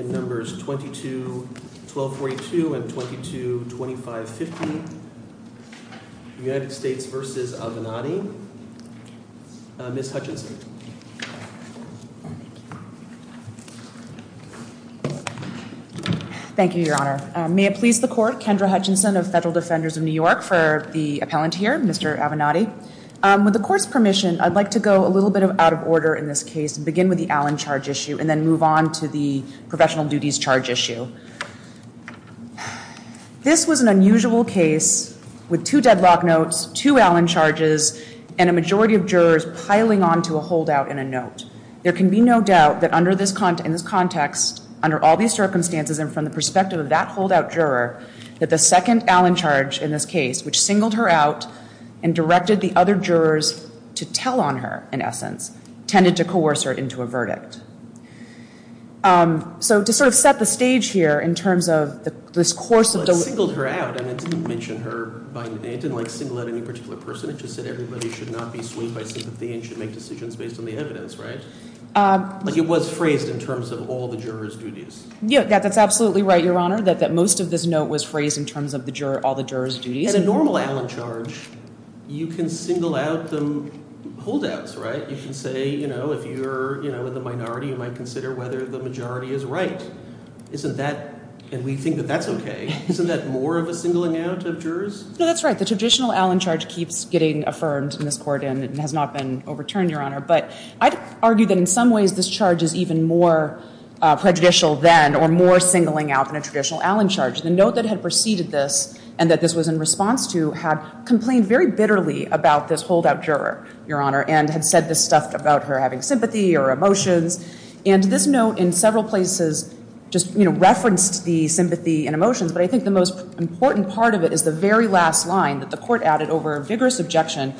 in numbers 22-1242 and 22-2550, United States v. Avenatti, Ms. Hutchinson. Thank you, your honor. May it please the court, Kendra Hutchinson of Federal Defenders of New York for the appellant here, Mr. Avenatti. With the court's permission, I'd like to go a little bit out of order in this case and begin with the Allen charge issue and then move on to the professional duties charge issue. This was an unusual case with two deadlock notes, two Allen charges, and a majority of jurors piling onto a holdout in a note. There can be no doubt that under this context, under all these circumstances and from the perspective of that holdout juror, that the second Allen charge in this case, which singled her out and directed the other jurors to tell on her, in essence, tended to coerce her into a verdict. So to sort of set the stage here in terms of this course of the- It singled her out. It didn't mention her by name. It didn't single out any particular person. It just said everybody should not be swayed by sympathy and should make decisions based on the evidence, right? It was phrased in terms of all the jurors' duties. Yeah, that's absolutely right, your honor, that most of this note was phrased in terms of all the jurors' duties. In a normal Allen charge, you can single out the holdouts, right? You can say, if you're in the minority, you might consider whether the majority is right. Isn't that, and we think that that's okay, isn't that more of a singling out of jurors? No, that's right. The traditional Allen charge keeps getting affirmed in this court and has not been overturned, your honor. But I'd argue that in some ways, this charge is even more prejudicial then or more singling out than a traditional Allen charge. The note that had preceded this and that this was in response to had complained very bitterly about this holdout juror, your honor, and had said this stuff about her having sympathy or emotions. And this note in several places just referenced the sympathy and emotions, but I think the most important part of it is the very last line that the court added over a vigorous objection.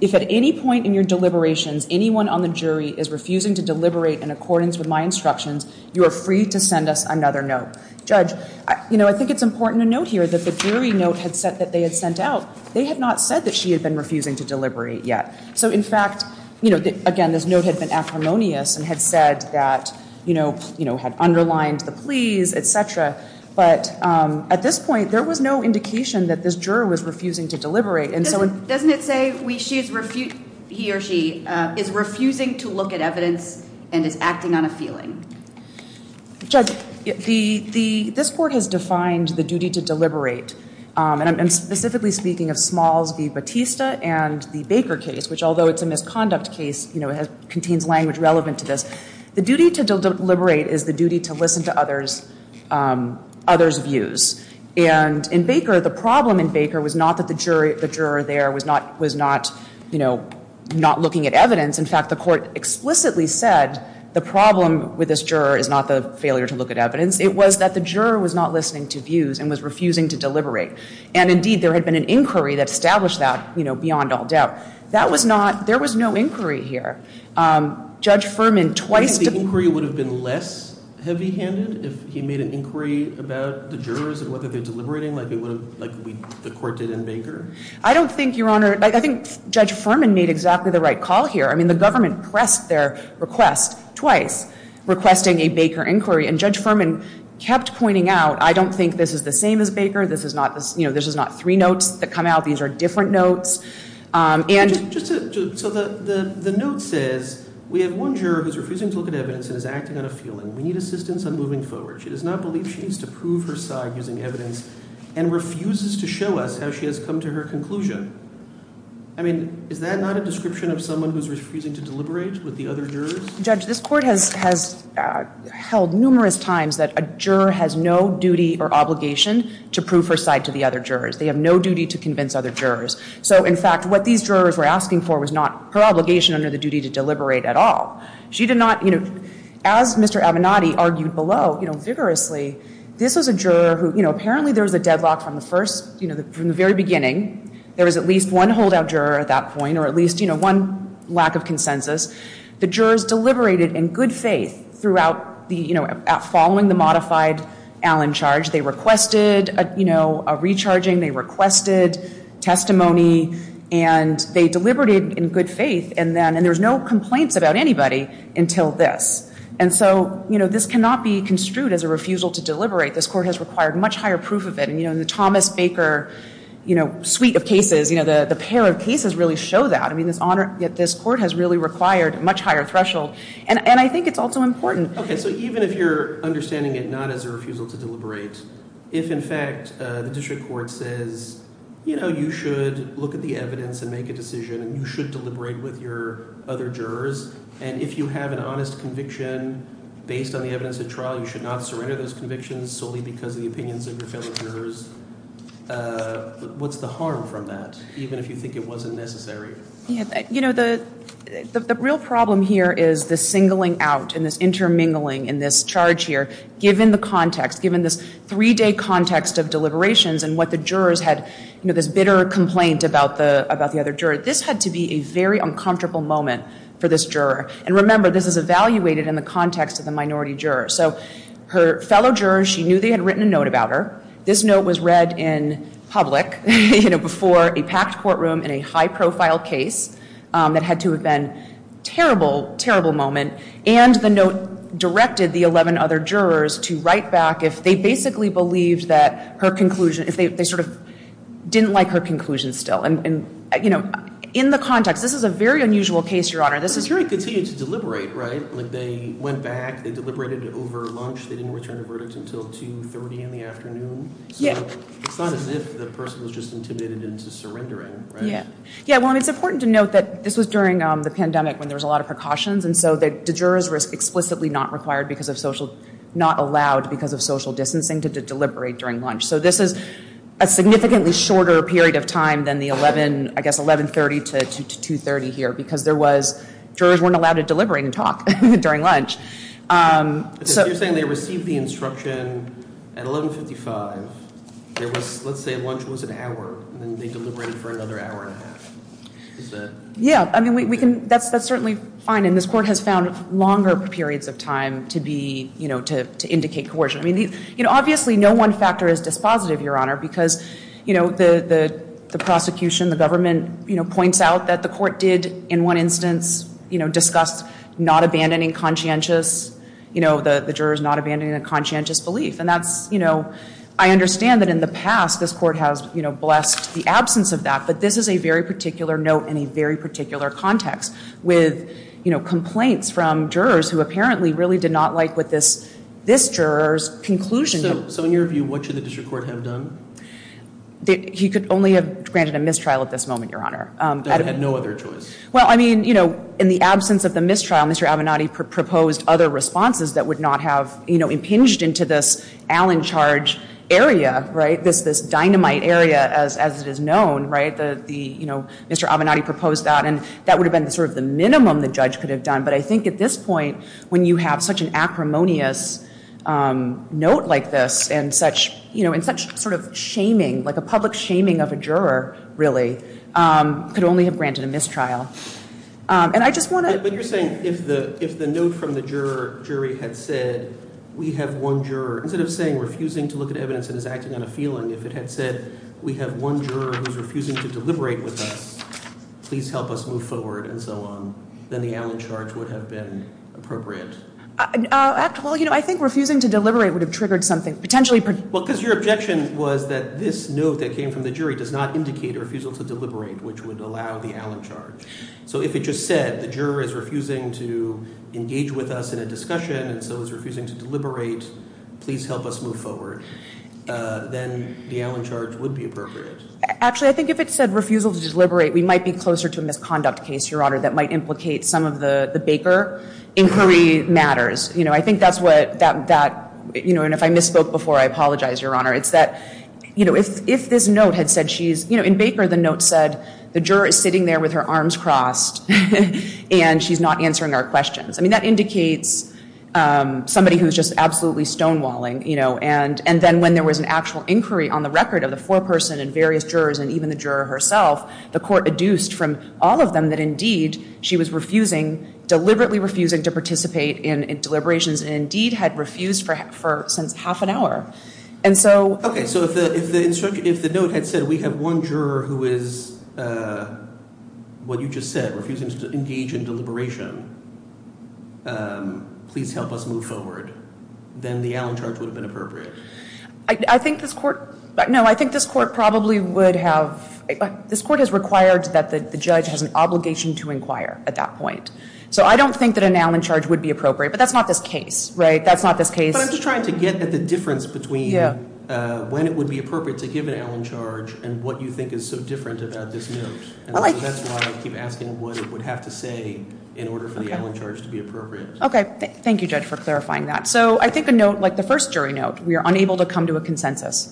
If at any point in your deliberations, anyone on the jury is refusing to deliberate in accordance with my instructions, you are free to send us another note. Judge, I think it's important to note here that the jury note that they had sent out, they had not said that she had been refusing to deliberate yet. So in fact, again, this note had been acrimonious and had said that, you know, had underlined the pleas, et cetera, but at this point, there was no indication that this juror was refusing to deliberate. Doesn't it say, he or she is refusing to look at evidence and is acting on a feeling? Judge, this court has defined the duty to deliberate, and I'm specifically speaking of Smalls v. Bautista and the Baker case, which although it's a misconduct case, you know, it contains language relevant to this. The duty to deliberate is the duty to listen to others' views. And in Baker, the problem in Baker was not that the juror there was not, you know, not looking at evidence. In fact, the court explicitly said the problem with this juror is not the failure to look at evidence. It was that the juror was not listening to views and was refusing to deliberate. And indeed, there had been an inquiry that established that, you know, beyond all doubt. That was not, there was no inquiry here. Judge Furman twice- Do you think the inquiry would have been less heavy-handed if he made an inquiry about the jurors and whether they're deliberating like the court did in Baker? I don't think, Your Honor, I think Judge Furman made exactly the right call here. I mean, the government pressed their request twice requesting a Baker inquiry. And Judge Furman kept pointing out, I don't think this is the same as Baker. This is not, you know, this is not three notes that come out. These are different notes. And- So the note says, we have one juror who's refusing to look at evidence and is acting on a feeling. We need assistance on moving forward. She does not believe she needs to prove her side using evidence and refuses to show us how she has come to her conclusion. I mean, is that not a description of someone who's refusing to deliberate with the other jurors? Judge, this court has held numerous times that a juror has no duty or obligation to prove her side to the other jurors. They have no duty to convince other jurors. So in fact, what these jurors were asking for was not her obligation under the duty to deliberate at all. She did not, you know, as Mr. Avenatti argued below, you know, vigorously, this was a juror who, you know, apparently there was a deadlock from the first, you know, from the very beginning. There was at least one holdout juror at that point or at least, you know, one lack of consensus. The jurors deliberated in good faith throughout the, you know, following the modified Allen charge. They requested, you know, a recharging, they requested testimony, and they deliberated in good faith. And then, and there was no complaints about anybody until this. And so, you know, this cannot be construed as a refusal to deliberate. This court has required much higher proof of it. And, you know, in the Thomas Baker, you know, suite of cases, you know, the pair of cases really show that. I mean, this honor, this court has really required a much higher threshold. And I think it's also important. Okay. So even if you're understanding it not as a refusal to deliberate, if in fact the district court says, you know, you should look at the evidence and make a decision and you should deliberate with your other jurors, and if you have an honest conviction based on the evidence at trial, you should not surrender those convictions solely because of the opinions of your fellow jurors, what's the harm from that, even if you think it wasn't necessary? You know, the real problem here is the singling out and this intermingling in this charge here, given the context, given this three-day context of deliberations and what the jurors had, you know, this bitter complaint about the other juror, this had to be a very uncomfortable moment for this juror. And remember, this is evaluated in the context of the minority juror. So her fellow jurors, she knew they had written a note about her. This note was read in public, you know, before a packed courtroom in a high-profile case that had to have been a terrible, terrible moment. And the note directed the 11 other jurors to write back if they basically believed that her conclusion, if they sort of didn't like her conclusion still. And, you know, in the context, this is a very unusual case, Your Honor. But the jury continued to deliberate, right? Like, they went back, they deliberated over lunch, they didn't return a verdict until 2.30 in the afternoon. So it's not as if the person was just intimidated into surrendering, right? Yeah. Yeah, well, and it's important to note that this was during the pandemic when there was a lot of precautions. And so the jurors were explicitly not required because of social, not allowed because of social distancing to deliberate during lunch. So this is a significantly shorter period of time than the 11, I guess, 11.30 to 2.30 here because there was, jurors weren't allowed to deliberate and talk during lunch. So you're saying they received the instruction at 11.55, there was, let's say, lunch was an hour and then they deliberated for another hour and a half. Yeah, I mean, we can, that's certainly fine. And this court has found longer periods of time to be, you know, to indicate coercion. I mean, you know, obviously no one factor is dispositive, Your Honor, because, you know, the prosecution, the government, you know, points out that the court did, in one instance, you know, discuss not abandoning conscientious, you know, the jurors not abandoning a conscientious And that's, you know, I understand that in the past this court has, you know, blessed the absence of that. But this is a very particular note in a very particular context with, you know, complaints from jurors who apparently really did not like what this, this juror's conclusion. So in your view, what should the district court have done? He could only have granted a mistrial at this moment, Your Honor. That had no other choice. Well, I mean, you know, in the absence of the mistrial, Mr. Avenatti proposed other responses that would not have, you know, impinged into this Allen charge area, right? This dynamite area, as it is known, right? The, you know, Mr. Avenatti proposed that. And that would have been sort of the minimum the judge could have done. But I think at this point, when you have such an acrimonious note like this and such, you know, and such sort of shaming, like a public shaming of a juror, really, could only have granted a mistrial. And I just want to... But you're saying if the, if the note from the juror, jury had said, we have one juror, instead of saying refusing to look at evidence that is acting on a feeling, if it had said, we have one juror who's refusing to deliberate with us, please help us move forward and so on, then the Allen charge would have been appropriate? Act, well, you know, I think refusing to deliberate would have triggered something. Potentially... Well, because your objection was that this note that came from the jury does not indicate a refusal to deliberate, which would allow the Allen charge. So if it just said the juror is refusing to engage with us in a discussion and so is refusing to deliberate, please help us move forward, then the Allen charge would be appropriate. Actually, I think if it said refusal to deliberate, we might be closer to a misconduct case, Your Honor, that might implicate some of the, the Baker inquiry matters. You know, I think that's what that, that, you know, and if I misspoke before, I apologize, Your Honor. It's that, you know, if, if this note had said she's, you know, in Baker, the note said the juror is sitting there with her arms crossed and she's not answering our questions. I mean, that indicates somebody who's just absolutely stonewalling, you know, and, and then when there was an actual inquiry on the record of the foreperson and various jurors and even the juror herself, the court adduced from all of them that indeed she was refusing, deliberately refusing to participate in deliberations and indeed had refused for, for since half an hour. And so. Okay. So if the, if the, if the note had said we have one juror who is, what you just said, refusing to engage in deliberation, please help us move forward, then the Allen charge would have been appropriate. I think this court, no, I think this court probably would have, this court has required that the judge has an obligation to inquire at that point. So I don't think that an Allen charge would be appropriate, but that's not this case, right? That's not this case. But I'm just trying to get at the difference between when it would be appropriate to give an Allen charge and what you think is so different about this note. And so that's why I keep asking what it would have to say in order for the Allen charge to be appropriate. Okay. Thank you, Judge, for clarifying that. So I think a note like the first jury note, we are unable to come to a consensus.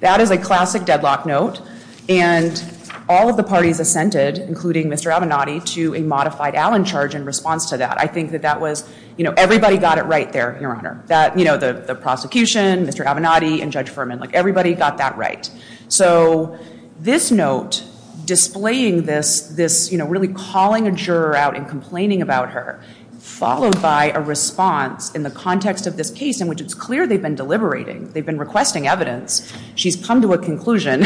That is a classic deadlock note. And all of the parties assented, including Mr. Avenatti, to a modified Allen charge in response to that. I think that that was, you know, everybody got it right there, Your Honor. That, you know, the prosecution, Mr. Avenatti, and Judge Furman, like everybody got that right. So this note displaying this, this, you know, really calling a juror out and complaining about her, followed by a response in the context of this case in which it's clear they've been deliberating, they've been requesting evidence, she's come to a conclusion.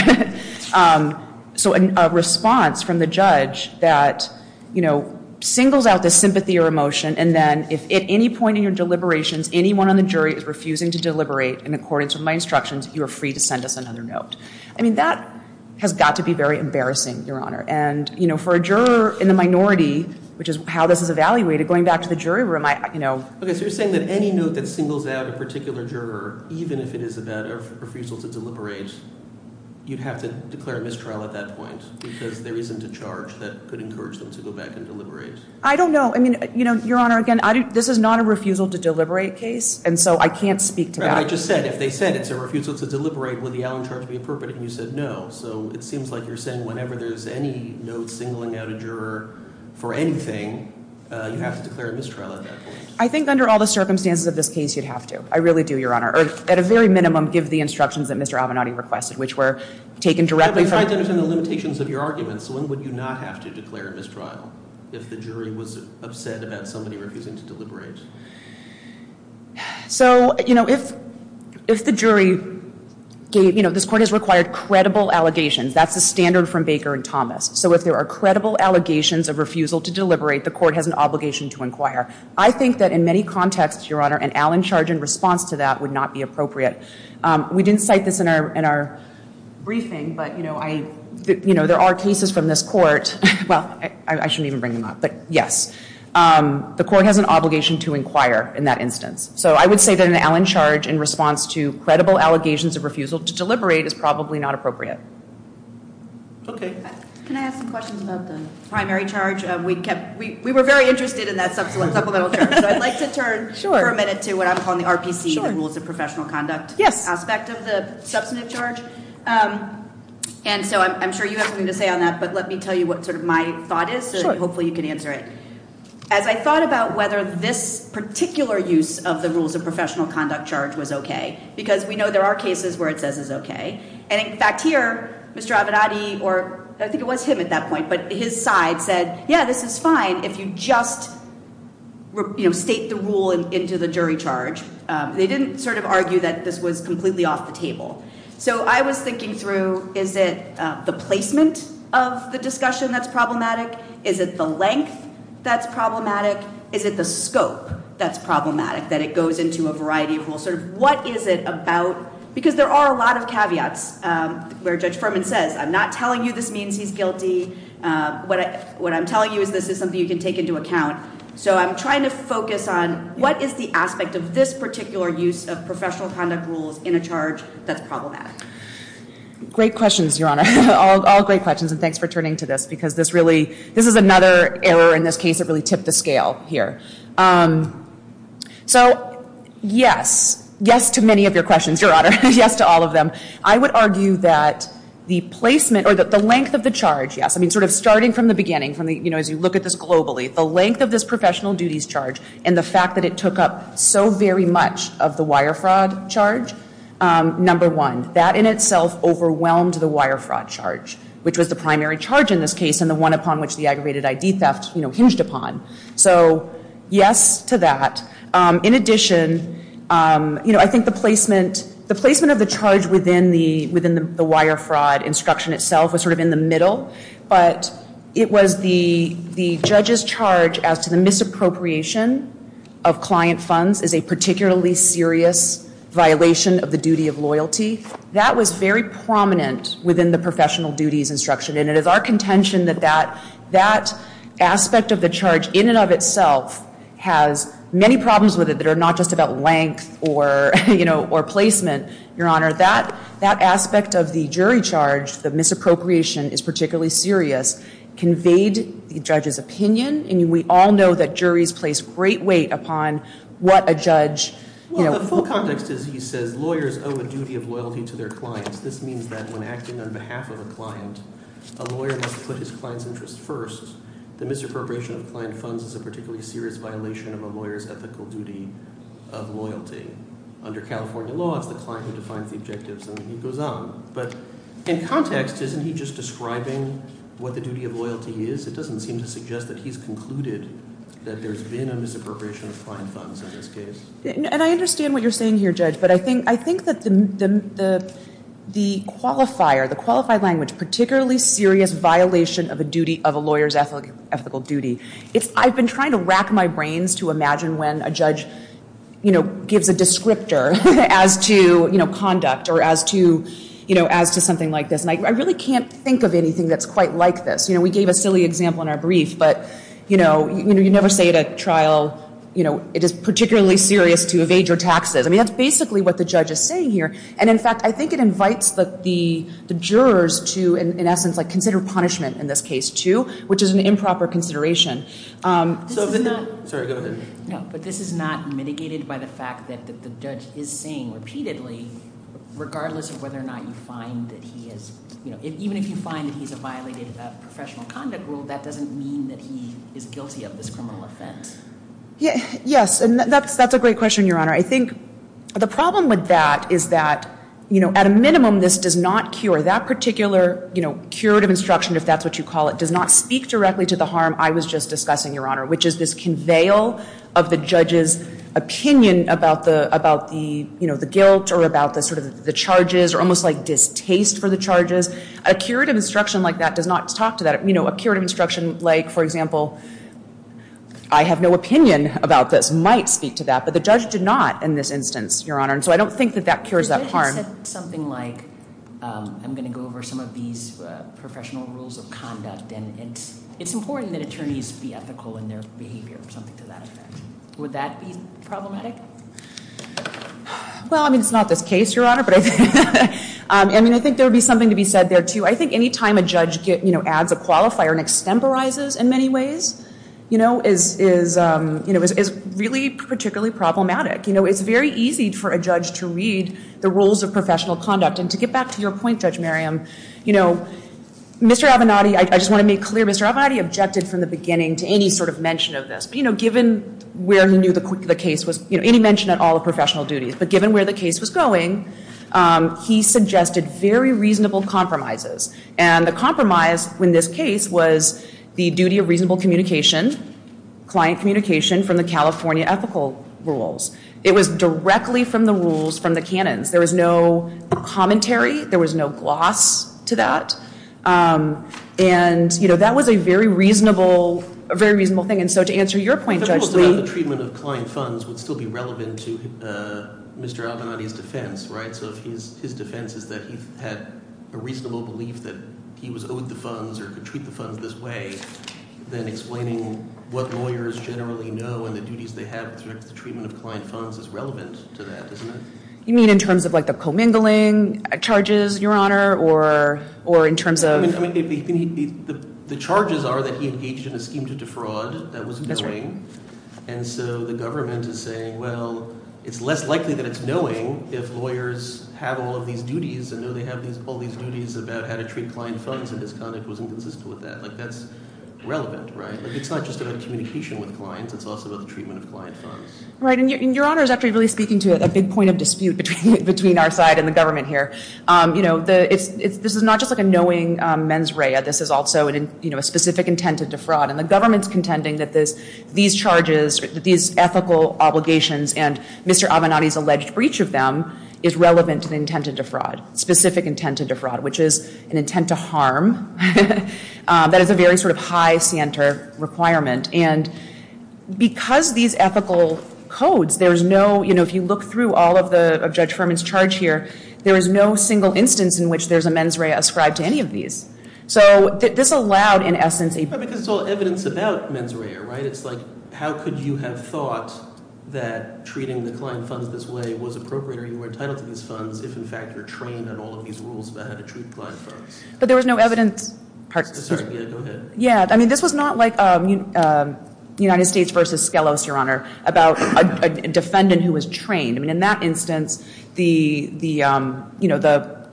So a response from the judge that, you know, singles out this sympathy or emotion, and then if at any point in your deliberations anyone on the jury is refusing to deliberate in accordance with my instructions, you are free to send us another note. I mean, that has got to be very embarrassing, Your Honor. And, you know, for a juror in the minority, which is how this is evaluated, going back to the jury room, I, you know. Okay. So you're saying that any note that singles out a particular juror, even if it is about a refusal to deliberate, you'd have to declare a mistrial at that point because there isn't a charge that could encourage them to go back and deliberate? I don't know. I mean, you know, Your Honor, again, this is not a refusal to deliberate case, and so I can't speak to that. Right. But I just said, if they said it's a refusal to deliberate, would the Allen charge be appropriate? And you said no. So it seems like you're saying whenever there's any note singling out a juror for anything, you have to declare a mistrial at that point. I think under all the circumstances of this case, you'd have to. I really do, Your Honor. Or, at a very minimum, give the instructions that Mr. Avenatti requested, which were taken directly from— But if I understand the limitations of your arguments, when would you not have to declare a mistrial if the jury was upset about somebody refusing to deliberate? So, you know, if the jury gave—you know, this court has required credible allegations. That's the standard from Baker and Thomas. So if there are credible allegations of refusal to deliberate, the court has an obligation to inquire. I think that in many contexts, Your Honor, an Allen charge in response to that would not be appropriate. We didn't cite this in our briefing, but, you know, there are cases from this court—well, I shouldn't even bring them up, but yes. The court has an obligation to inquire in that instance. So I would say that an Allen charge in response to credible allegations of refusal to deliberate is probably not appropriate. Okay. Can I ask some questions about the primary charge? We kept—we were very interested in that supplemental charge, so I'd like to turn for a minute to what I'm calling the RPC, the Rules of Professional Conduct aspect of the substantive charge. And so I'm sure you have something to say on that, but let me tell you what sort of my thought is, so hopefully you can answer it. As I thought about whether this particular use of the Rules of Professional Conduct charge was okay, because we know there are cases where it says it's okay, and in fact here, Mr. Avenatti, or I think it was him at that point, but his side said, yeah, this is fine if you just, you know, state the rule into the jury charge. They didn't sort of argue that this was completely off the table. So I was thinking through, is it the placement of the discussion that's problematic? Is it the length that's problematic? Is it the scope that's problematic, that it goes into a variety of rules? What is it about—because there are a lot of caveats where Judge Furman says, I'm not telling you this means he's guilty. What I'm telling you is this is something you can take into account. So I'm trying to focus on what is the aspect of this particular use of professional conduct rules in a charge that's problematic. Great questions, Your Honor. All great questions, and thanks for turning to this, because this really—this is another error in this case that really tipped the scale here. So yes, yes to many of your questions, Your Honor, yes to all of them. I would argue that the placement, or the length of the charge, yes, I mean sort of starting from the beginning, you know, as you look at this globally, the length of this professional wire fraud charge, number one, that in itself overwhelmed the wire fraud charge, which was the primary charge in this case and the one upon which the aggravated ID theft hinged upon. So yes to that. In addition, you know, I think the placement—the placement of the charge within the wire fraud instruction itself was sort of in the middle, but it was the judge's charge as to the misappropriation of client funds is a particularly serious violation of the duty of loyalty. That was very prominent within the professional duties instruction, and it is our contention that that aspect of the charge in and of itself has many problems with it that are not just about length or, you know, or placement, Your Honor. That aspect of the jury charge, the misappropriation is particularly serious, conveyed the judge's great weight upon what a judge, you know— Well, the full context is he says lawyers owe a duty of loyalty to their clients. This means that when acting on behalf of a client, a lawyer must put his client's interests first. The misappropriation of client funds is a particularly serious violation of a lawyer's ethical duty of loyalty. Under California law, it's the client who defines the objectives, and he goes on. But in context, isn't he just describing what the duty of loyalty is? It doesn't seem to suggest that he's concluded that there's been a misappropriation of client funds in this case. And I understand what you're saying here, Judge, but I think that the qualifier, the qualified language, particularly serious violation of a lawyer's ethical duty. I've been trying to rack my brains to imagine when a judge, you know, gives a descriptor as to, you know, conduct or as to, you know, as to something like this. And I really can't think of anything that's quite like this. You know, we gave a silly example in our brief, but, you know, you never say at a trial, you know, it is particularly serious to evade your taxes. I mean, that's basically what the judge is saying here. And, in fact, I think it invites the jurors to, in essence, like consider punishment in this case too, which is an improper consideration. Sorry, go ahead. No, but this is not mitigated by the fact that the judge is saying repeatedly, regardless of whether or not you find that he is, you know, even if you find that he's a violated professional conduct rule, that doesn't mean that he is guilty of this criminal offense. Yes, and that's a great question, Your Honor. I think the problem with that is that, you know, at a minimum, this does not cure. That particular, you know, curative instruction, if that's what you call it, does not speak directly to the harm I was just discussing, Your Honor, which is this conveyor of the charges or almost like distaste for the charges. A curative instruction like that does not talk to that. You know, a curative instruction like, for example, I have no opinion about this might speak to that, but the judge did not in this instance, Your Honor. And so I don't think that that cures that harm. You said something like I'm going to go over some of these professional rules of conduct and it's important that attorneys be ethical in their behavior or something to that effect. Would that be problematic? Well, I mean, it's not this case, Your Honor. I mean, I think there would be something to be said there, too. I think any time a judge adds a qualifier and extemporizes in many ways, you know, is really particularly problematic. You know, it's very easy for a judge to read the rules of professional conduct. And to get back to your point, Judge Merriam, you know, Mr. Avenatti, I just want to make clear, Mr. Avenatti objected from the beginning to any sort of mention of this. You know, given where he knew the case was, you know, any mention at all of professional duties. But given where the case was going, he suggested very reasonable compromises. And the compromise in this case was the duty of reasonable communication, client communication from the California ethical rules. It was directly from the rules, from the canons. There was no commentary. There was no gloss to that. And, you know, that was a very reasonable thing. And so to answer your point, Judge Lee. The rule about the treatment of client funds would still be relevant to Mr. Avenatti's defense, right? So if his defense is that he had a reasonable belief that he was owed the funds or could treat the funds this way, then explaining what lawyers generally know and the duties they have with respect to the treatment of client funds is relevant to that, isn't it? You mean in terms of like the commingling charges, Your Honor, or in terms of? The charges are that he engaged in a scheme to defraud. That was knowing. And so the government is saying, well, it's less likely that it's knowing if lawyers have all of these duties and know they have all these duties about how to treat client funds and his conduct wasn't consistent with that. Like that's relevant, right? Like it's not just about communication with clients. It's also about the treatment of client funds. Right. And Your Honor is actually really speaking to a big point of dispute between our side and the government here. You know, this is not just like a knowing mens rea. This is also, you know, a specific intent to defraud. And the government's contending that these charges, these ethical obligations and Mr. Avenatti's alleged breach of them is relevant to the intent to defraud, specific intent to defraud, which is an intent to harm. That is a very sort of high center requirement. And because these ethical codes, there's no, you know, if you look through all of Judge Furman's charge here, there is no single instance in which there's a mens rea ascribed to any of these. So this allowed in essence a Because it's all evidence about mens rea, right? It's like how could you have thought that treating the client funds this way was appropriate or you were entitled to these funds if in fact you're trained in all of these rules about how to treat client funds. But there was no evidence Sorry, go ahead. Yeah, I mean this was not like United States versus Skelos, Your Honor, about a defendant who was trained. I mean in that instance, the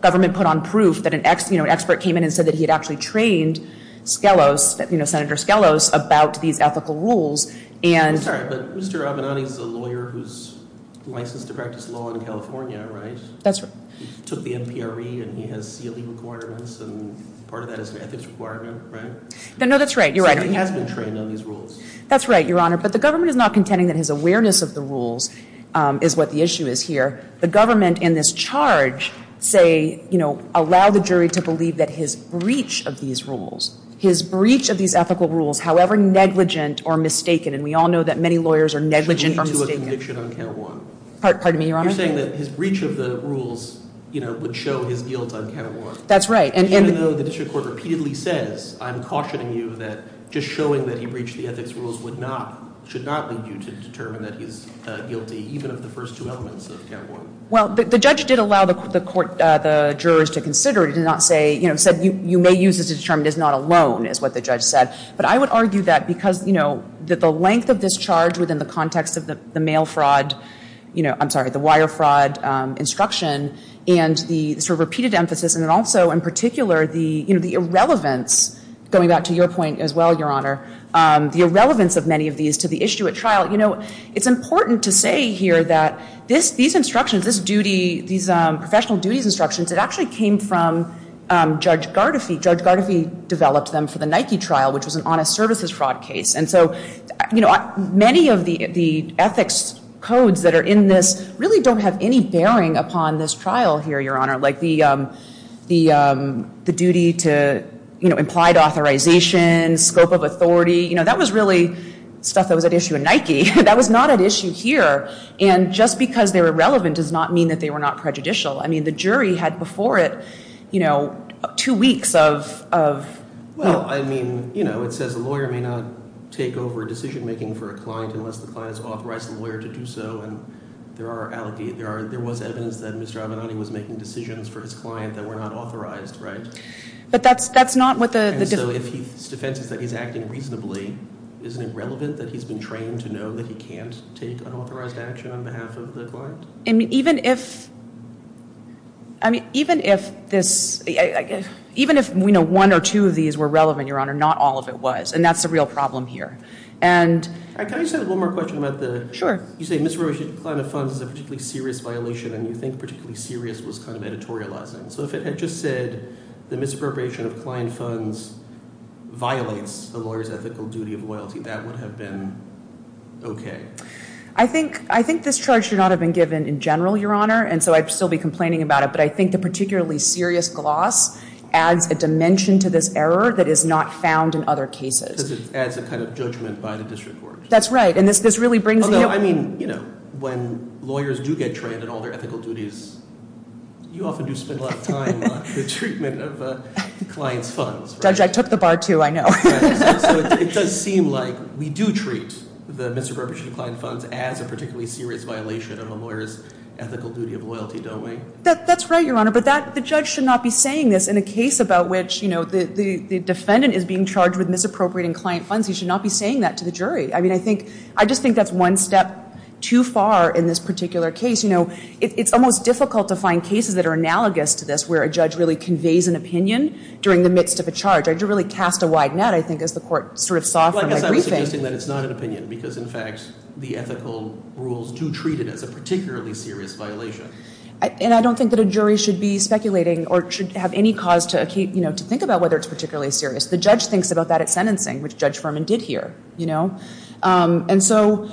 government put on proof that an expert came in and said that he had actually trained Skelos, you know, Senator Skelos, about these ethical rules. I'm sorry, but Mr. Avenatti's a lawyer who's licensed to practice law in California, right? That's right. He took the MPRE and he has CLE requirements and part of that is an ethics requirement, right? No, that's right. You're right. So he has been trained on these rules. That's right, Your Honor. But the government is not contending that his awareness of the rules is what the issue is here. The government in this charge say, you know, allow the jury to believe that his breach of these rules, his breach of these ethical rules, however negligent or mistaken, and we all know that many lawyers are negligent or mistaken. Part of me, Your Honor. You're saying that his breach of the rules, you know, would show his guilt on count one. That's right. Even though the district court repeatedly says, I'm cautioning you that just showing that he breached the ethics rules would not, should not lead you to determine that he's guilty even of the first two elements of count one. Well, the judge did allow the court, the jurors to consider it. He did not say, you know, said you may use this to determine he's not alone is what the judge said. But I would argue that because, you know, that the length of this charge within the context of the mail fraud, you know, I'm sorry, the wire fraud instruction and the sort of repeated emphasis and also in particular the, you know, the irrelevance, going back to your point as well, Your Honor, the irrelevance of many of these to the issue at trial. You know, it's important to say here that this, these instructions, this duty, these professional duties instructions that actually came from Judge Gardefee. Judge Gardefee developed them for the Nike trial, which was an honest services fraud case. And so, you know, many of the ethics codes that are in this really don't have any bearing upon this trial here, Your Honor. Like the duty to, you know, implied authorization, scope of authority. You know, that was really stuff that was at issue at Nike. That was not at issue here. And just because they were relevant does not mean that they were not prejudicial. I mean, the jury had before it, you know, two weeks of. Well, I mean, you know, it says a lawyer may not take over decision making for a client unless the client has authorized the lawyer to do so. And there are, there was evidence that Mr. Abinanti was making decisions for his client that were not authorized, right? But that's not what the. And so if his defense is that he's acting reasonably, isn't it relevant that he's been trained to know that he can't take unauthorized action on behalf of the client? I mean, even if, I mean, even if this, even if, you know, one or two of these were relevant, Your Honor, not all of it was. And that's the real problem here. And. Can I just have one more question about the. Sure. You say misappropriation of client funds is a particularly serious violation. And you think particularly serious was kind of editorializing. So if it had just said the misappropriation of client funds violates the lawyer's ethical duty of loyalty, that would have been okay. I think, I think this charge should not have been given in general, Your Honor. And so I'd still be complaining about it. But I think the particularly serious gloss adds a dimension to this error that is not found in other cases. Because it adds a kind of judgment by the district court. That's right. And this really brings. Although, I mean, you know, when lawyers do get trained in all their ethical duties, you often do spend a lot of time on the treatment of a client's funds. Judge, I took the bar too, I know. So it does seem like we do treat the misappropriation of client funds as a particularly serious violation of a lawyer's ethical duty of loyalty, don't we? That's right, Your Honor. But that, the judge should not be saying this in a case about which, you know, the defendant is being charged with misappropriating client funds. He should not be saying that to the jury. I mean, I think, I just think that's one step too far in this particular case. You know, it's almost difficult to find cases that are analogous to this where a judge really conveys an opinion during the midst of a charge. I'd really cast a wide net, I think, as the court sort of saw from the briefing. Well, I guess I'm suggesting that it's not an opinion because, in fact, the ethical rules do treat it as a particularly serious violation. And I don't think that a jury should be speculating or should have any cause to, you know, to think about whether it's particularly serious. The judge thinks about that at sentencing, which Judge Furman did here, you know. And so,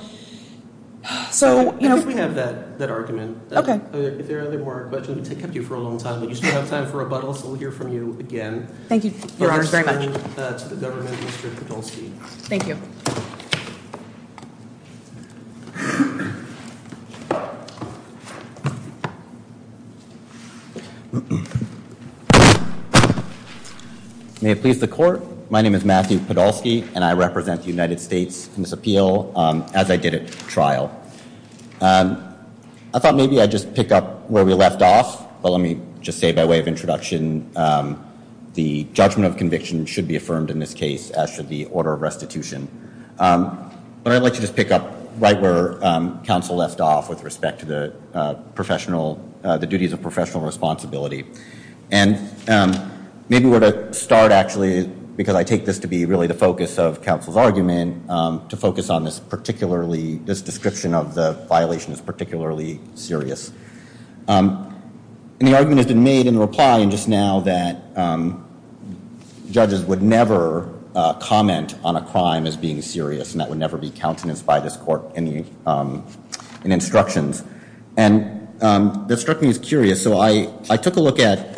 so, you know. I think we have that argument. Okay. If there are any more questions, we've kept you for a long time, but you still have time for rebuttals, so we'll hear from you again. Thank you, Your Honor, very much. For your testimony to the government, Mr. Podolsky. Thank you. May it please the court. My name is Matthew Podolsky, and I represent the United States in this appeal, as I did at trial. I thought maybe I'd just pick up where we left off. But let me just say by way of introduction, the judgment of conviction should be affirmed in this case, as should the order of restitution. But I'd like to just pick up right where counsel left off with respect to the professional, the duties of professional responsibility. And maybe where to start, actually, because I take this to be really the focus of counsel's argument, to focus on this description of the violation as particularly serious. And the argument has been made in the reply just now that judges would never comment on a crime as being serious, and that would never be countenanced by this court in instructions. And that struck me as curious. So I took a look at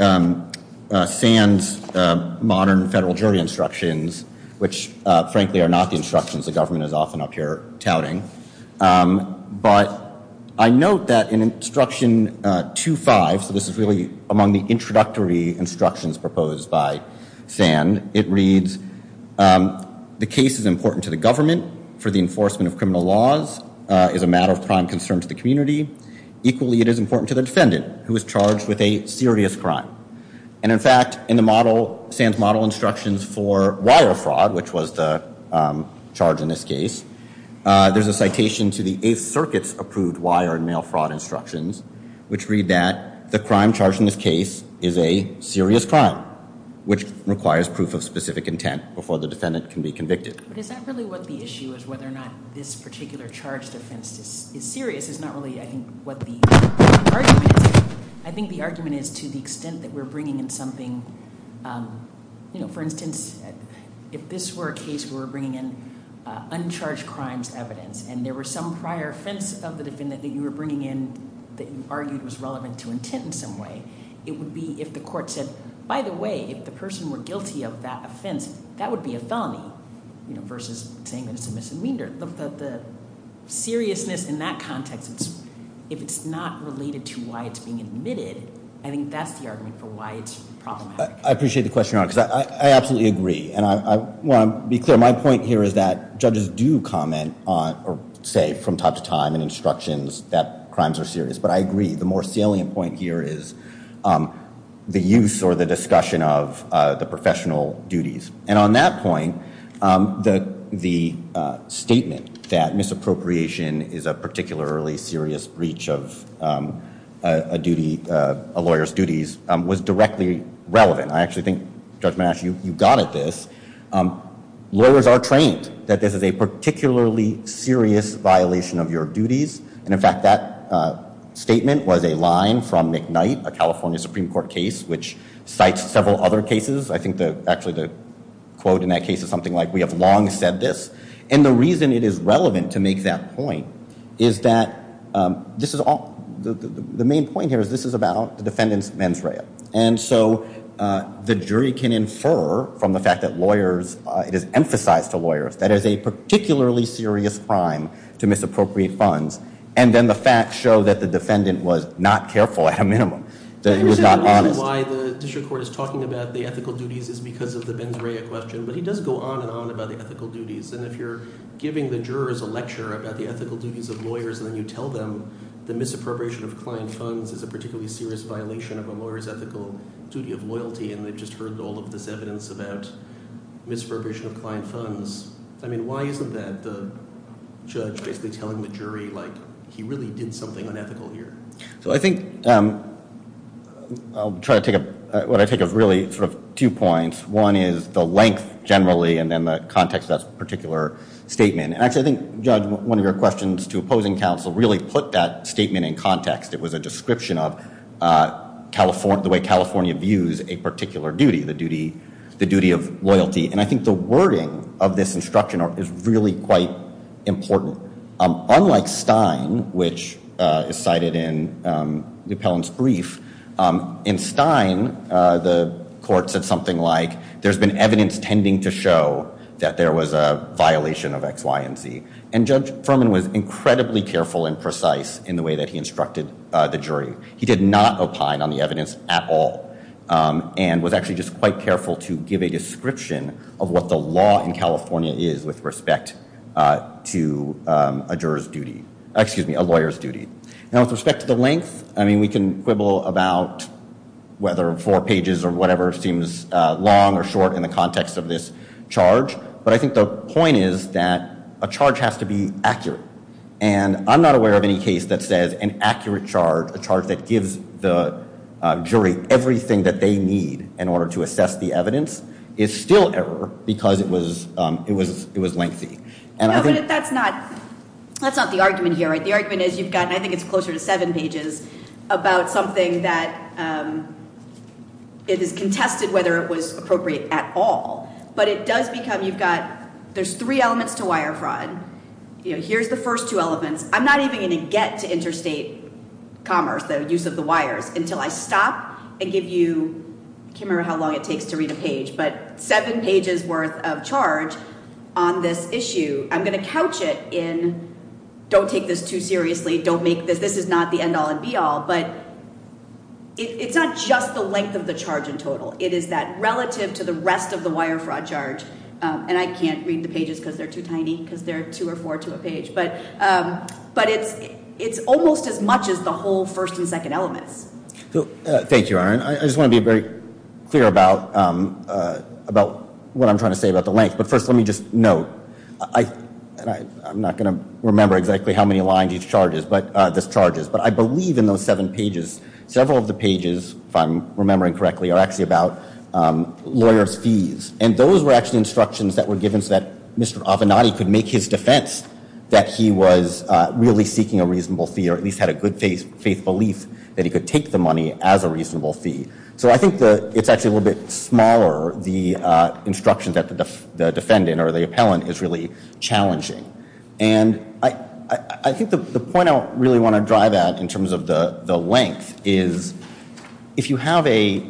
Sand's modern federal jury instructions, which, frankly, are not the instructions the government is often up here touting. But I note that in instruction 2-5, so this is really among the introductory instructions proposed by Sand, it reads, the case is important to the government for the enforcement of criminal laws, is a matter of prime concern to the community. Equally, it is important to the defendant, who is charged with a serious crime. And, in fact, in the model, Sand's model instructions for wire fraud, which was the charge in this case, there's a citation to the Eighth Circuit's approved wire and mail fraud instructions, which read that the crime charged in this case is a serious crime, which requires proof of specific intent before the defendant can be convicted. But is that really what the issue is, whether or not this particular charged offense is serious? It's not really, I think, what the argument is. I think the argument is to the extent that we're bringing in something, you know, for instance, if this were a case where we're bringing in uncharged crimes evidence and there were some prior offense of the defendant that you were bringing in that you argued was relevant to intent in some way, it would be if the court said, by the way, if the person were guilty of that offense, that would be a felony, you know, versus saying that it's a misdemeanor. The seriousness in that context, if it's not related to why it's being admitted, I think that's the argument for why it's problematic. I appreciate the question, Your Honor, because I absolutely agree. And I want to be clear. My point here is that judges do comment on or say from time to time in instructions that crimes are serious. But I agree. The more salient point here is the use or the discussion of the professional duties. And on that point, the statement that misappropriation is a particularly serious breach of a lawyer's duties was directly relevant. I actually think, Judge Manasci, you got at this. Lawyers are trained that this is a particularly serious violation of your duties. And, in fact, that statement was a line from McKnight, a California Supreme Court case, which cites several other cases. I think actually the quote in that case is something like, we have long said this. And the reason it is relevant to make that point is that this is all the main point here is this is about the defendant's mens rea. And so the jury can infer from the fact that lawyers, it is emphasized to lawyers, that is a particularly serious crime to misappropriate funds. And then the facts show that the defendant was not careful at a minimum, that he was not honest. The reason why the district court is talking about the ethical duties is because of the mens rea question. But he does go on and on about the ethical duties. And if you're giving the jurors a lecture about the ethical duties of lawyers, and then you tell them the misappropriation of client funds is a particularly serious violation of a lawyer's ethical duty of loyalty, and they've just heard all of this evidence about misappropriation of client funds, I mean, why isn't that the judge basically telling the jury, like, he really did something unethical here? So I think I'll try to take what I take as really sort of two points. One is the length, generally, and then the context of that particular statement. And actually, I think, Judge, one of your questions to opposing counsel really put that statement in context. It was a description of the way California views a particular duty, the duty of loyalty. And I think the wording of this instruction is really quite important. Unlike Stein, which is cited in the appellant's brief, in Stein, the court said something like, there's been evidence tending to show that there was a violation of X, Y, and Z. And Judge Furman was incredibly careful and precise in the way that he instructed the jury. He did not opine on the evidence at all, and was actually just quite careful to give a description of what the law in California is with respect to a juror's duty, excuse me, a lawyer's duty. Now, with respect to the length, I mean, we can quibble about whether four pages or whatever seems long or short in the context of this charge, but I think the point is that a charge has to be accurate. And I'm not aware of any case that says an accurate charge, a charge that gives the jury everything that they need in order to assess the evidence, is still error because it was lengthy. No, but that's not the argument here. The argument is you've got, and I think it's closer to seven pages, about something that is contested whether it was appropriate at all. But it does become, you've got, there's three elements to wire fraud. You know, here's the first two elements. I'm not even going to get to interstate commerce, the use of the wires, until I stop and give you, I can't remember how long it takes to read a page, but seven pages worth of charge on this issue. I'm going to couch it in don't take this too seriously, don't make this, this is not the end all and be all, but it's not just the length of the charge in total. It is that relative to the rest of the wire fraud charge, and I can't read the pages because they're too tiny, because they're two or four to a page, but it's almost as much as the whole first and second elements. Thank you, Erin. I just want to be very clear about what I'm trying to say about the length, but first let me just note, and I'm not going to remember exactly how many lines each charge is, but this charge is, but I believe in those seven pages, several of the pages, if I'm remembering correctly, are actually about lawyers' fees, and those were actually instructions that were given so that Mr. Avenatti could make his defense that he was really seeking a reasonable fee or at least had a good faith belief that he could take the money as a reasonable fee. So I think it's actually a little bit smaller, the instructions that the defendant or the appellant is really challenging, and I think the point I really want to drive at in terms of the length is if you have a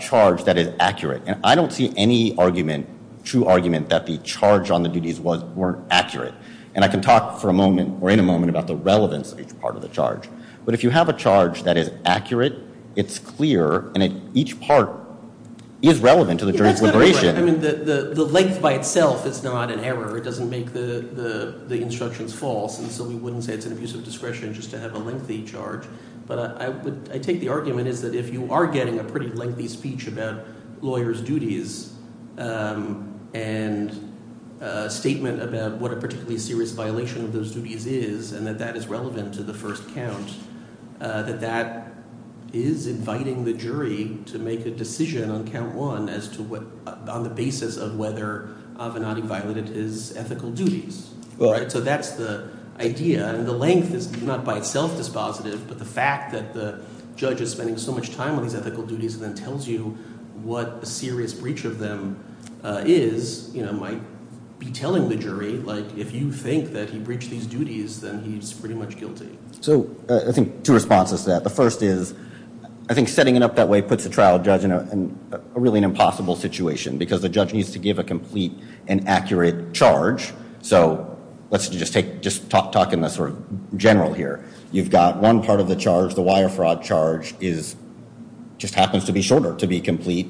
charge that is accurate, and I don't see any argument, true argument, that the charge on the duties weren't accurate, and I can talk for a moment or in a moment about the relevance of each part of the charge, but if you have a charge that is accurate, it's clear, and each part is relevant to the jury's deliberation. The length by itself is not an error. It doesn't make the instructions false, and so we wouldn't say it's an abuse of discretion just to have a lengthy charge, but I take the argument is that if you are getting a pretty lengthy speech about lawyers' duties and a statement about what a particularly serious violation of those duties is and that that is relevant to the first count, that that is inviting the jury to make a decision on count one on the basis of whether Avenatti violated his ethical duties. So that's the idea, and the length is not by itself dispositive, but the fact that the judge is spending so much time on these ethical duties and then tells you what a serious breach of them is might be telling the jury if you think that he breached these duties, then he's pretty much guilty. So I think two responses to that. The first is I think setting it up that way puts a trial judge in a really impossible situation because the judge needs to give a complete and accurate charge. So let's just talk in the sort of general here. You've got one part of the charge, the wire fraud charge, just happens to be shorter to be complete.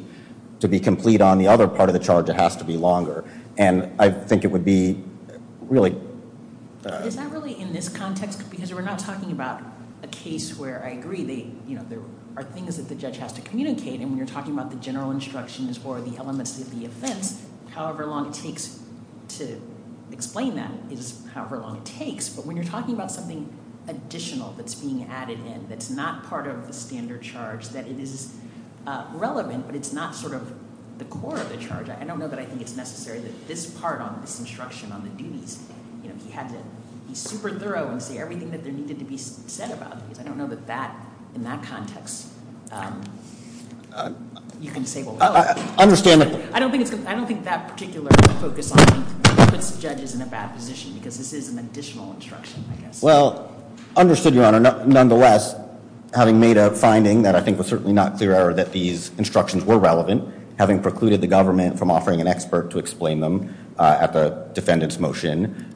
To be complete on the other part of the charge, it has to be longer, and I think it would be really— Is that really in this context? Because we're not talking about a case where I agree there are things that the judge has to communicate, and when you're talking about the general instructions or the elements of the offense, however long it takes to explain that is however long it takes. But when you're talking about something additional that's being added in that's not part of the standard charge, that it is relevant but it's not sort of the core of the charge, I don't know that I think it's necessary that this part on this instruction on the duties, he had to be super thorough and say everything that needed to be said about it. I don't know that in that context you can say, well, no. I don't think that particular focus on it puts the judges in a bad position because this is an additional instruction, I guess. Well, understood, Your Honor. Nonetheless, having made a finding that I think was certainly not clear that these instructions were relevant, having precluded the government from offering an expert to explain them at the defendant's motion,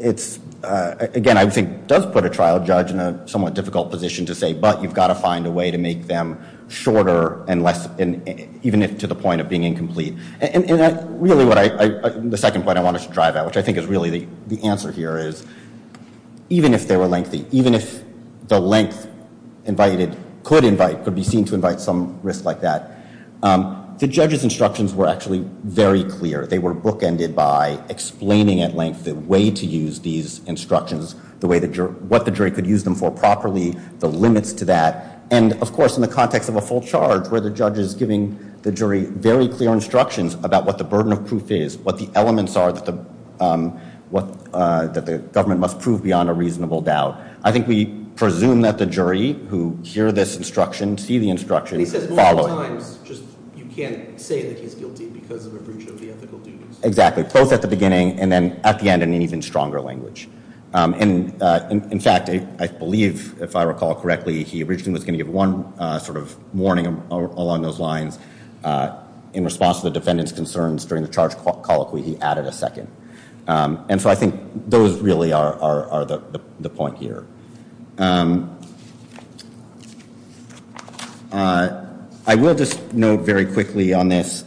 it's, again, I think does put a trial judge in a somewhat difficult position to say, but you've got to find a way to make them shorter and less, even if to the point of being incomplete. And really what I, the second point I wanted to drive at, which I think is really the answer here is, even if they were lengthy, even if the length invited, could invite, could be seen to invite some risk like that, the judge's instructions were actually very clear. They were bookended by explaining at length the way to use these instructions, what the jury could use them for properly, the limits to that. And, of course, in the context of a full charge, where the judge is giving the jury very clear instructions about what the burden of proof is, what the elements are that the government must prove beyond a reasonable doubt. I think we presume that the jury who hear this instruction, see the instruction, follow it. He says multiple times, just you can't say that he's guilty because of a breach of the ethical duties. Exactly. Both at the beginning and then at the end in an even stronger language. And, in fact, I believe, if I recall correctly, he originally was going to give one sort of warning along those lines in response to the defendant's concerns during the charged colloquy, he added a second. And so I think those really are the point here. I will just note very quickly on this.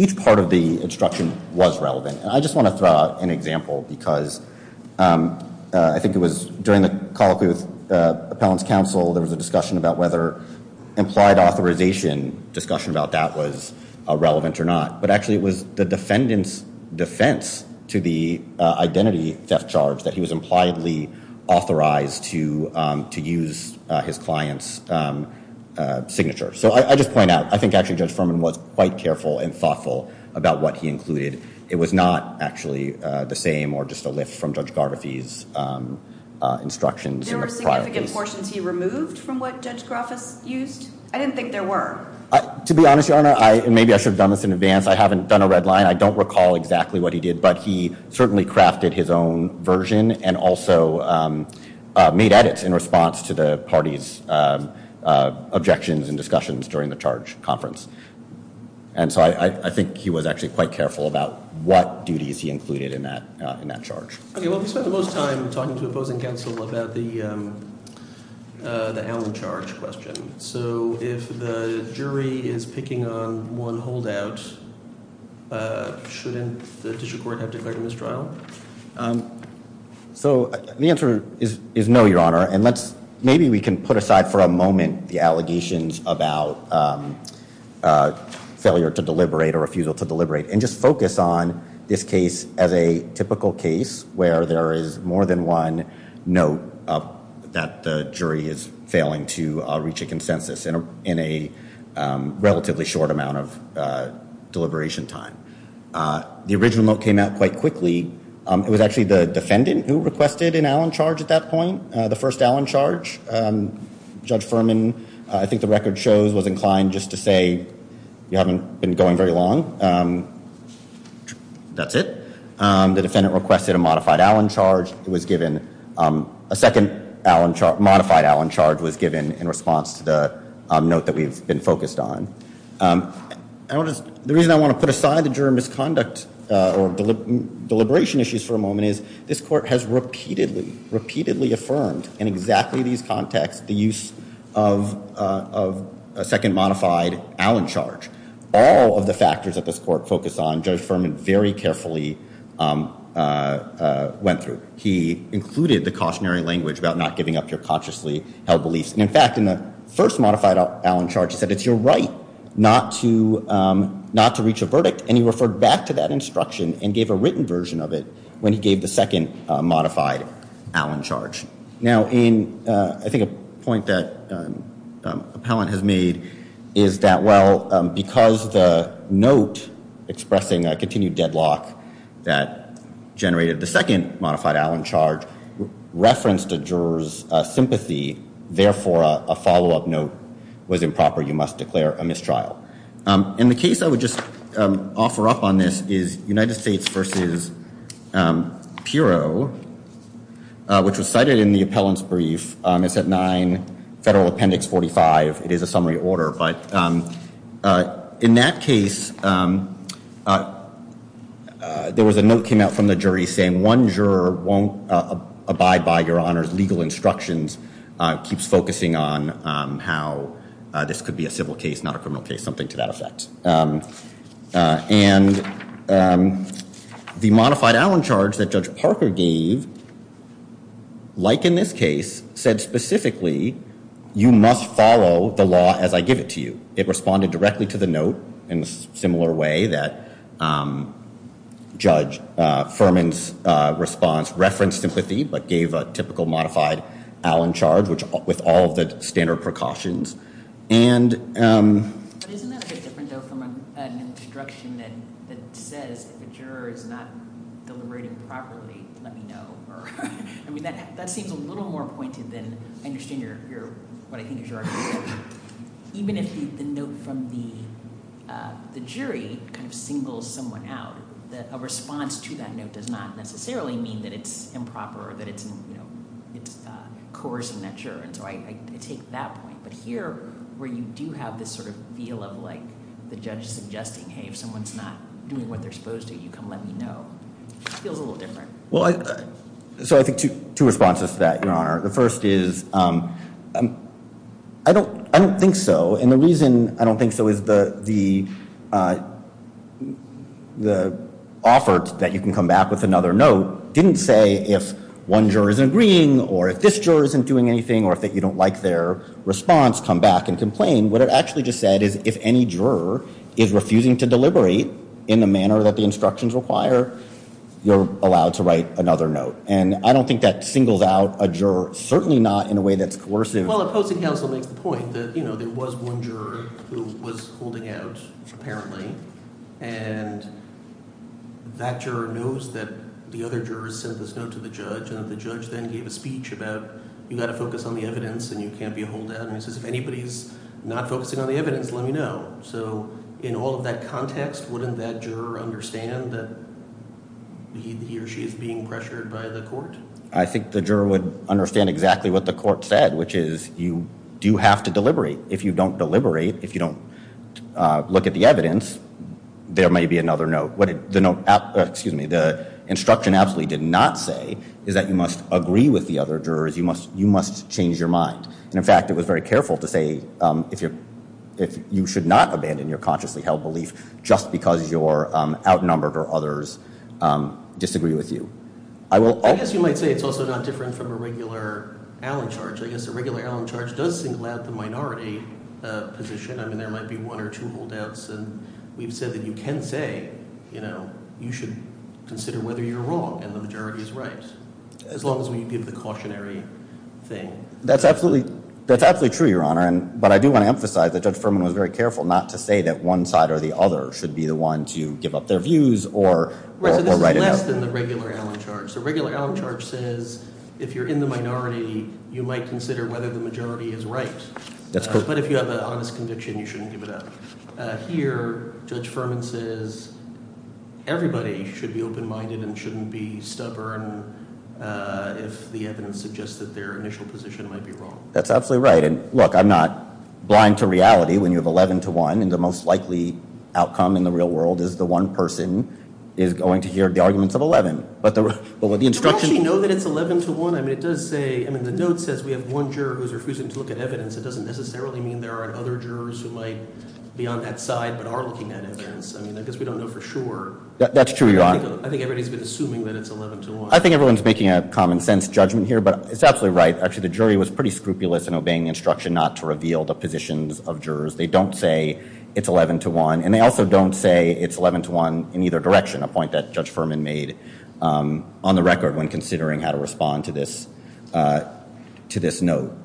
Each part of the instruction was relevant. I just want to throw out an example because I think it was during the colloquy with appellant's counsel, there was a discussion about whether implied authorization, discussion about that was relevant or not. But actually it was the defendant's defense to the identity theft charge that he was impliedly authorized to use his client's signature. So I just point out, I think actually Judge Furman was quite careful and thoughtful about what he included. It was not actually the same or just a lift from Judge Garvathy's instructions. There were significant portions he removed from what Judge Grafis used? I didn't think there were. To be honest, Your Honor, and maybe I should have done this in advance, I haven't done a red line. I don't recall exactly what he did, but he certainly crafted his own version and also made edits in response to the party's objections and discussions during the charge conference. And so I think he was actually quite careful about what duties he included in that charge. Okay, well we spent the most time talking to opposing counsel about the Allen charge question. So if the jury is picking on one holdout, shouldn't the district court have declared a mistrial? So the answer is no, Your Honor. And maybe we can put aside for a moment the allegations about failure to deliberate or refusal to deliberate and just focus on this case as a typical case where there is more than one note that the jury is failing to reach a consensus in a relatively short amount of deliberation time. The original note came out quite quickly. It was actually the defendant who requested an Allen charge at that point, the first Allen charge. Judge Furman, I think the record shows, was inclined just to say, you haven't been going very long. That's it. The defendant requested a modified Allen charge. It was given, a second modified Allen charge was given in response to the note that we've been focused on. The reason I want to put aside the juror misconduct or deliberation issues for a moment is this court has repeatedly, repeatedly affirmed in exactly these contexts the use of a second modified Allen charge. All of the factors that this court focused on, Judge Furman very carefully went through. He included the cautionary language about not giving up your consciously held beliefs. In fact, in the first modified Allen charge, he said it's your right not to reach a verdict, and he referred back to that instruction and gave a written version of it when he gave the second modified Allen charge. Now, I think a point that Appellant has made is that, well, because the note expressing a continued deadlock that generated the second modified Allen charge referenced a juror's sympathy. Therefore, a follow-up note was improper. You must declare a mistrial. And the case I would just offer up on this is United States v. Pirro, which was cited in the Appellant's brief. It's at 9 Federal Appendix 45. It is a summary order. But in that case, there was a note came out from the jury saying one juror won't abide by your honor's legal instructions, keeps focusing on how this could be a civil case, not a criminal case, something to that effect. And the modified Allen charge that Judge Parker gave, like in this case, said specifically, you must follow the law as I give it to you. It responded directly to the note in a similar way that Judge Furman's response referenced sympathy but gave a typical modified Allen charge with all of the standard precautions. Isn't that a bit different, though, from an instruction that says if a juror is not deliberating properly, let me know? I mean, that seems a little more pointed than I understand what I think is your argument. Even if the note from the jury kind of singles someone out, a response to that note does not necessarily mean that it's improper or that it's coercing that juror. So I take that point. But here, where you do have this sort of feel of like the judge suggesting, hey, if someone's not doing what they're supposed to, you can let me know, it feels a little different. Well, so I think two responses to that, Your Honor. The first is I don't think so. And the reason I don't think so is the offer that you can come back with another note didn't say if one juror isn't agreeing or if this juror isn't doing anything or if you don't like their response, come back and complain. What it actually just said is if any juror is refusing to deliberate in the manner that the instructions require, you're allowed to write another note. And I don't think that singles out a juror, certainly not in a way that's coercive. Well, the opposing counsel makes the point that there was one juror who was holding out, apparently, and that juror knows that the other juror sent this note to the judge, and the judge then gave a speech about you've got to focus on the evidence and you can't be a holdout. And he says if anybody's not focusing on the evidence, let me know. So in all of that context, wouldn't that juror understand that he or she is being pressured by the court? I think the juror would understand exactly what the court said, which is you do have to deliberate. If you don't deliberate, if you don't look at the evidence, there may be another note. What the instruction absolutely did not say is that you must agree with the other jurors. You must change your mind. And, in fact, it was very careful to say you should not abandon your consciously held belief just because you're outnumbered or others disagree with you. I guess you might say it's also not different from a regular Allen charge. I guess a regular Allen charge does single out the minority position. I mean, there might be one or two holdouts, and we've said that you can say you should consider whether you're wrong and the majority is right as long as we give the cautionary thing. That's absolutely true, Your Honor, but I do want to emphasize that Judge Furman was very careful not to say that one side or the other should be the one to give up their views or write it up. Right, so this is less than the regular Allen charge. A regular Allen charge says if you're in the minority, you might consider whether the majority is right. But if you have an honest conviction, you shouldn't give it up. Here, Judge Furman says everybody should be open-minded and shouldn't be stubborn if the evidence suggests that their initial position might be wrong. That's absolutely right. And, look, I'm not blind to reality when you have 11 to 1, and the most likely outcome in the real world is the one person is going to hear the arguments of 11. Do we actually know that it's 11 to 1? I mean, the note says we have one juror who's refusing to look at evidence. It doesn't necessarily mean there aren't other jurors who might be on that side but are looking at evidence. I mean, I guess we don't know for sure. That's true, Your Honor. I think everybody's been assuming that it's 11 to 1. I think everyone's making a common-sense judgment here, but it's absolutely right. Actually, the jury was pretty scrupulous in obeying the instruction not to reveal the positions of jurors. They don't say it's 11 to 1, and they also don't say it's 11 to 1 in either direction, a point that Judge Furman made on the record when considering how to respond to this note.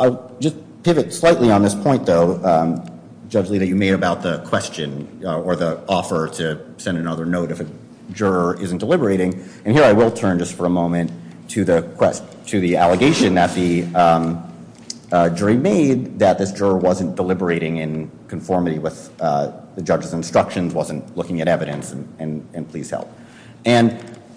I'll just pivot slightly on this point, though, Judge Lita, you made about the question or the offer to send another note if a juror isn't deliberating. And here I will turn just for a moment to the allegation that the jury made that this juror wasn't deliberating in conformity with the judge's instructions, wasn't looking at evidence, and please help. And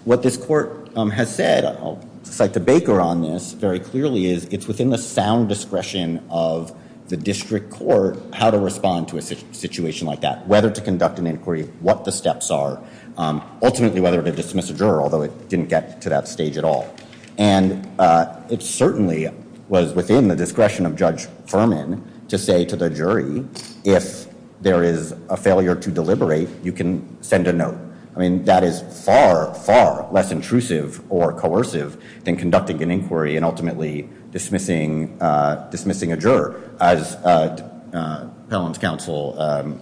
what this court has said, I'll cite the Baker on this very clearly, is it's within the sound discretion of the district court how to respond to a situation like that, whether to conduct an inquiry, what the steps are, ultimately whether to dismiss a juror, although it didn't get to that stage at all. And it certainly was within the discretion of Judge Furman to say to the jury, if there is a failure to deliberate, you can send a note. I mean, that is far, far less intrusive or coercive than conducting an inquiry and ultimately dismissing a juror. As Pelham's counsel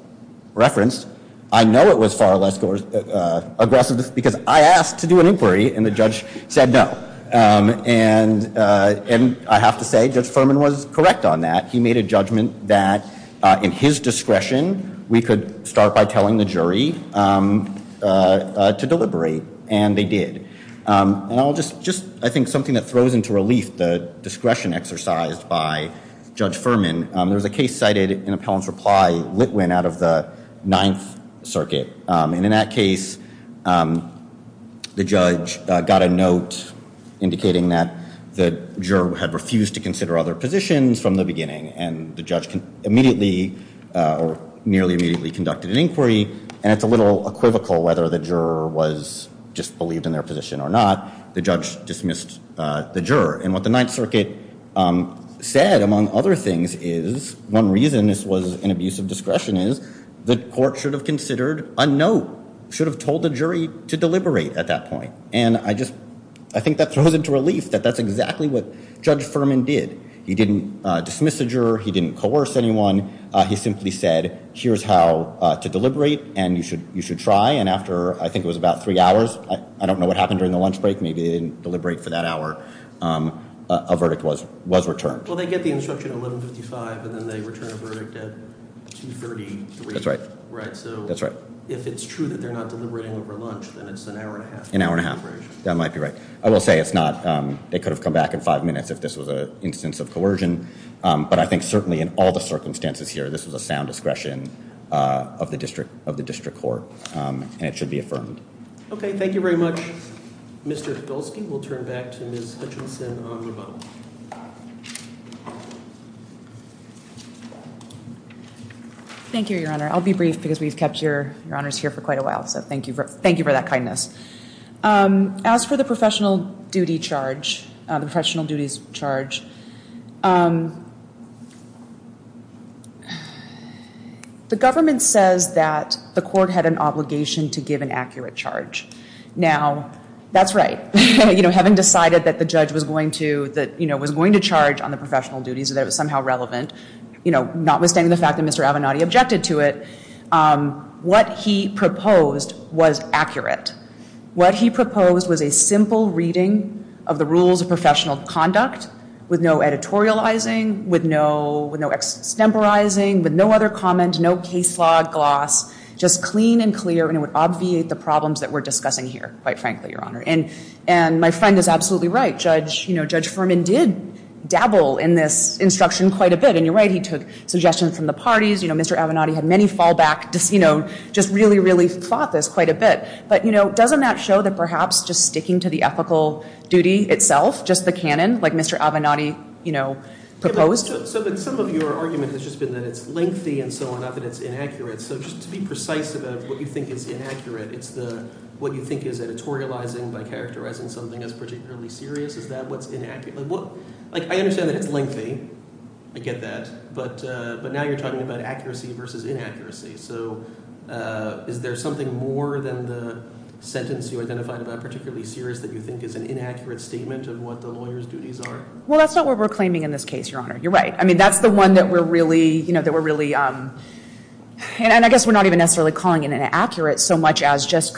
referenced, I know it was far less aggressive because I asked to do an inquiry, and the judge said no. And I have to say, Judge Furman was correct on that. He made a judgment that in his discretion we could start by telling the jury to deliberate, and they did. And I'll just, I think something that throws into relief the discretion exercised by Judge Furman, there was a case cited in Pelham's reply, Litwin, out of the Ninth Circuit. And in that case, the judge got a note indicating that the juror had refused to consider other positions from the beginning, and the judge immediately or nearly immediately conducted an inquiry. And it's a little equivocal whether the juror was just believed in their position or not. The judge dismissed the juror. And what the Ninth Circuit said, among other things, is one reason this was an abuse of discretion is the court should have considered a note, should have told the jury to deliberate at that point. And I just, I think that throws into relief that that's exactly what Judge Furman did. He didn't dismiss a juror. He didn't coerce anyone. He simply said, here's how to deliberate, and you should try. And after, I think it was about three hours, I don't know what happened during the lunch break, maybe they didn't deliberate for that hour, a verdict was returned. Well, they get the instruction at 1155, and then they return a verdict at 233. That's right. So if it's true that they're not deliberating over lunch, then it's an hour and a half. An hour and a half. That might be right. I will say it's not, they could have come back in five minutes if this was an instance of coercion. But I think certainly in all the circumstances here, this was a sound discretion of the district court. And it should be affirmed. Okay, thank you very much. Mr. Hidalski will turn back to Ms. Hutchinson on rebuttal. Thank you, Your Honor. I'll be brief because we've kept Your Honors here for quite a while, so thank you for that kindness. As for the professional duty charge, the professional duties charge, the government says that the court had an obligation to give an accurate charge. Now, that's right. Having decided that the judge was going to charge on the professional duties, that it was somehow relevant, notwithstanding the fact that Mr. Avenatti objected to it, what he proposed was accurate. What he proposed was a simple reading of the rules of professional conduct with no editorializing, with no extemporizing, with no other comment, no case law gloss, just clean and clear, and it would obviate the problems that we're discussing here, quite frankly, Your Honor. And my friend is absolutely right. Judge Ferman did dabble in this instruction quite a bit. And you're right, he took suggestions from the parties. Mr. Avenatti had many fallbacks, just really, really fought this quite a bit. But doesn't that show that perhaps just sticking to the ethical duty itself, just the canon like Mr. Avenatti proposed? But some of your argument has just been that it's lengthy and so on, that it's inaccurate. So just to be precise about what you think is inaccurate, it's what you think is editorializing by characterizing something as particularly serious? Is that what's inaccurate? I understand that it's lengthy. I get that. But now you're talking about accuracy versus inaccuracy. So is there something more than the sentence you identified about particularly serious that you think is an inaccurate statement of what the lawyer's duties are? Well, that's not what we're claiming in this case, Your Honor. You're right. I mean, that's the one that we're really ‑‑ and I guess we're not even necessarily calling it inaccurate so much as just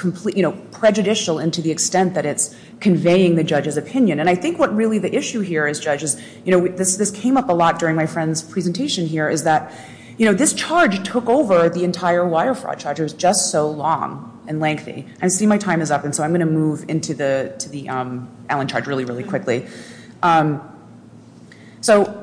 prejudicial into the extent that it's conveying the judge's opinion. And I think what really the issue here is, judges, this came up a lot during my friend's presentation here, is that this charge took over the entire wire fraud charge. It was just so long and lengthy. I see my time is up, and so I'm going to move into the Allen charge really, really quickly. So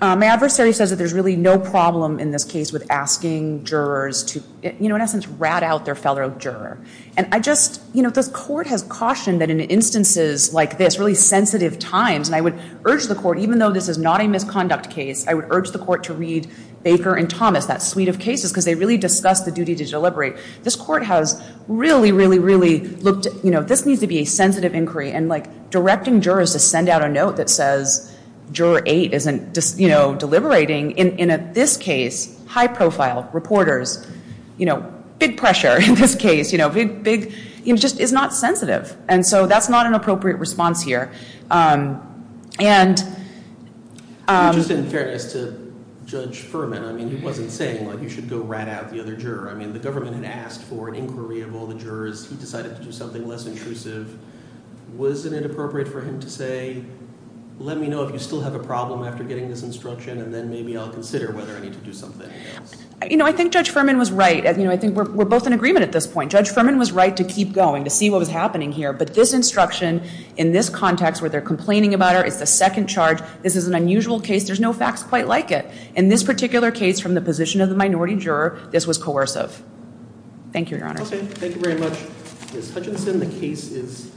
my adversary says that there's really no problem in this case with asking jurors to, you know, in essence, rat out their fellow juror. And I just ‑‑ you know, this court has cautioned that in instances like this, really sensitive times, and I would urge the court, even though this is not a misconduct case, I would urge the court to read Baker and Thomas, that suite of cases, because they really discuss the duty to deliberate. This court has really, really, really looked at, you know, this needs to be a sensitive inquiry, and, like, directing jurors to send out a note that says, Juror 8 isn't, you know, deliberating, in this case, high profile reporters, you know, big pressure in this case, you know, big, big, it just is not sensitive. And so that's not an appropriate response here. And ‑‑ Just in fairness to Judge Furman, I mean, he wasn't saying, like, you should go rat out the other juror. I mean, the government had asked for an inquiry of all the jurors. He decided to do something less intrusive. Wasn't it appropriate for him to say, let me know if you still have a problem after getting this instruction, and then maybe I'll consider whether I need to do something else. You know, I think Judge Furman was right. You know, I think we're both in agreement at this point. Judge Furman was right to keep going, to see what was happening here. But this instruction, in this context where they're complaining about her, is the second charge. This is an unusual case. There's no facts quite like it. this was coercive. Thank you, Your Honor. Okay. Thank you very much, Ms. Hutchinson. The case is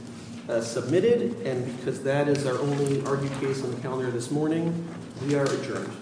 submitted. And because that is our only argued case on the calendar this morning, we are adjourned.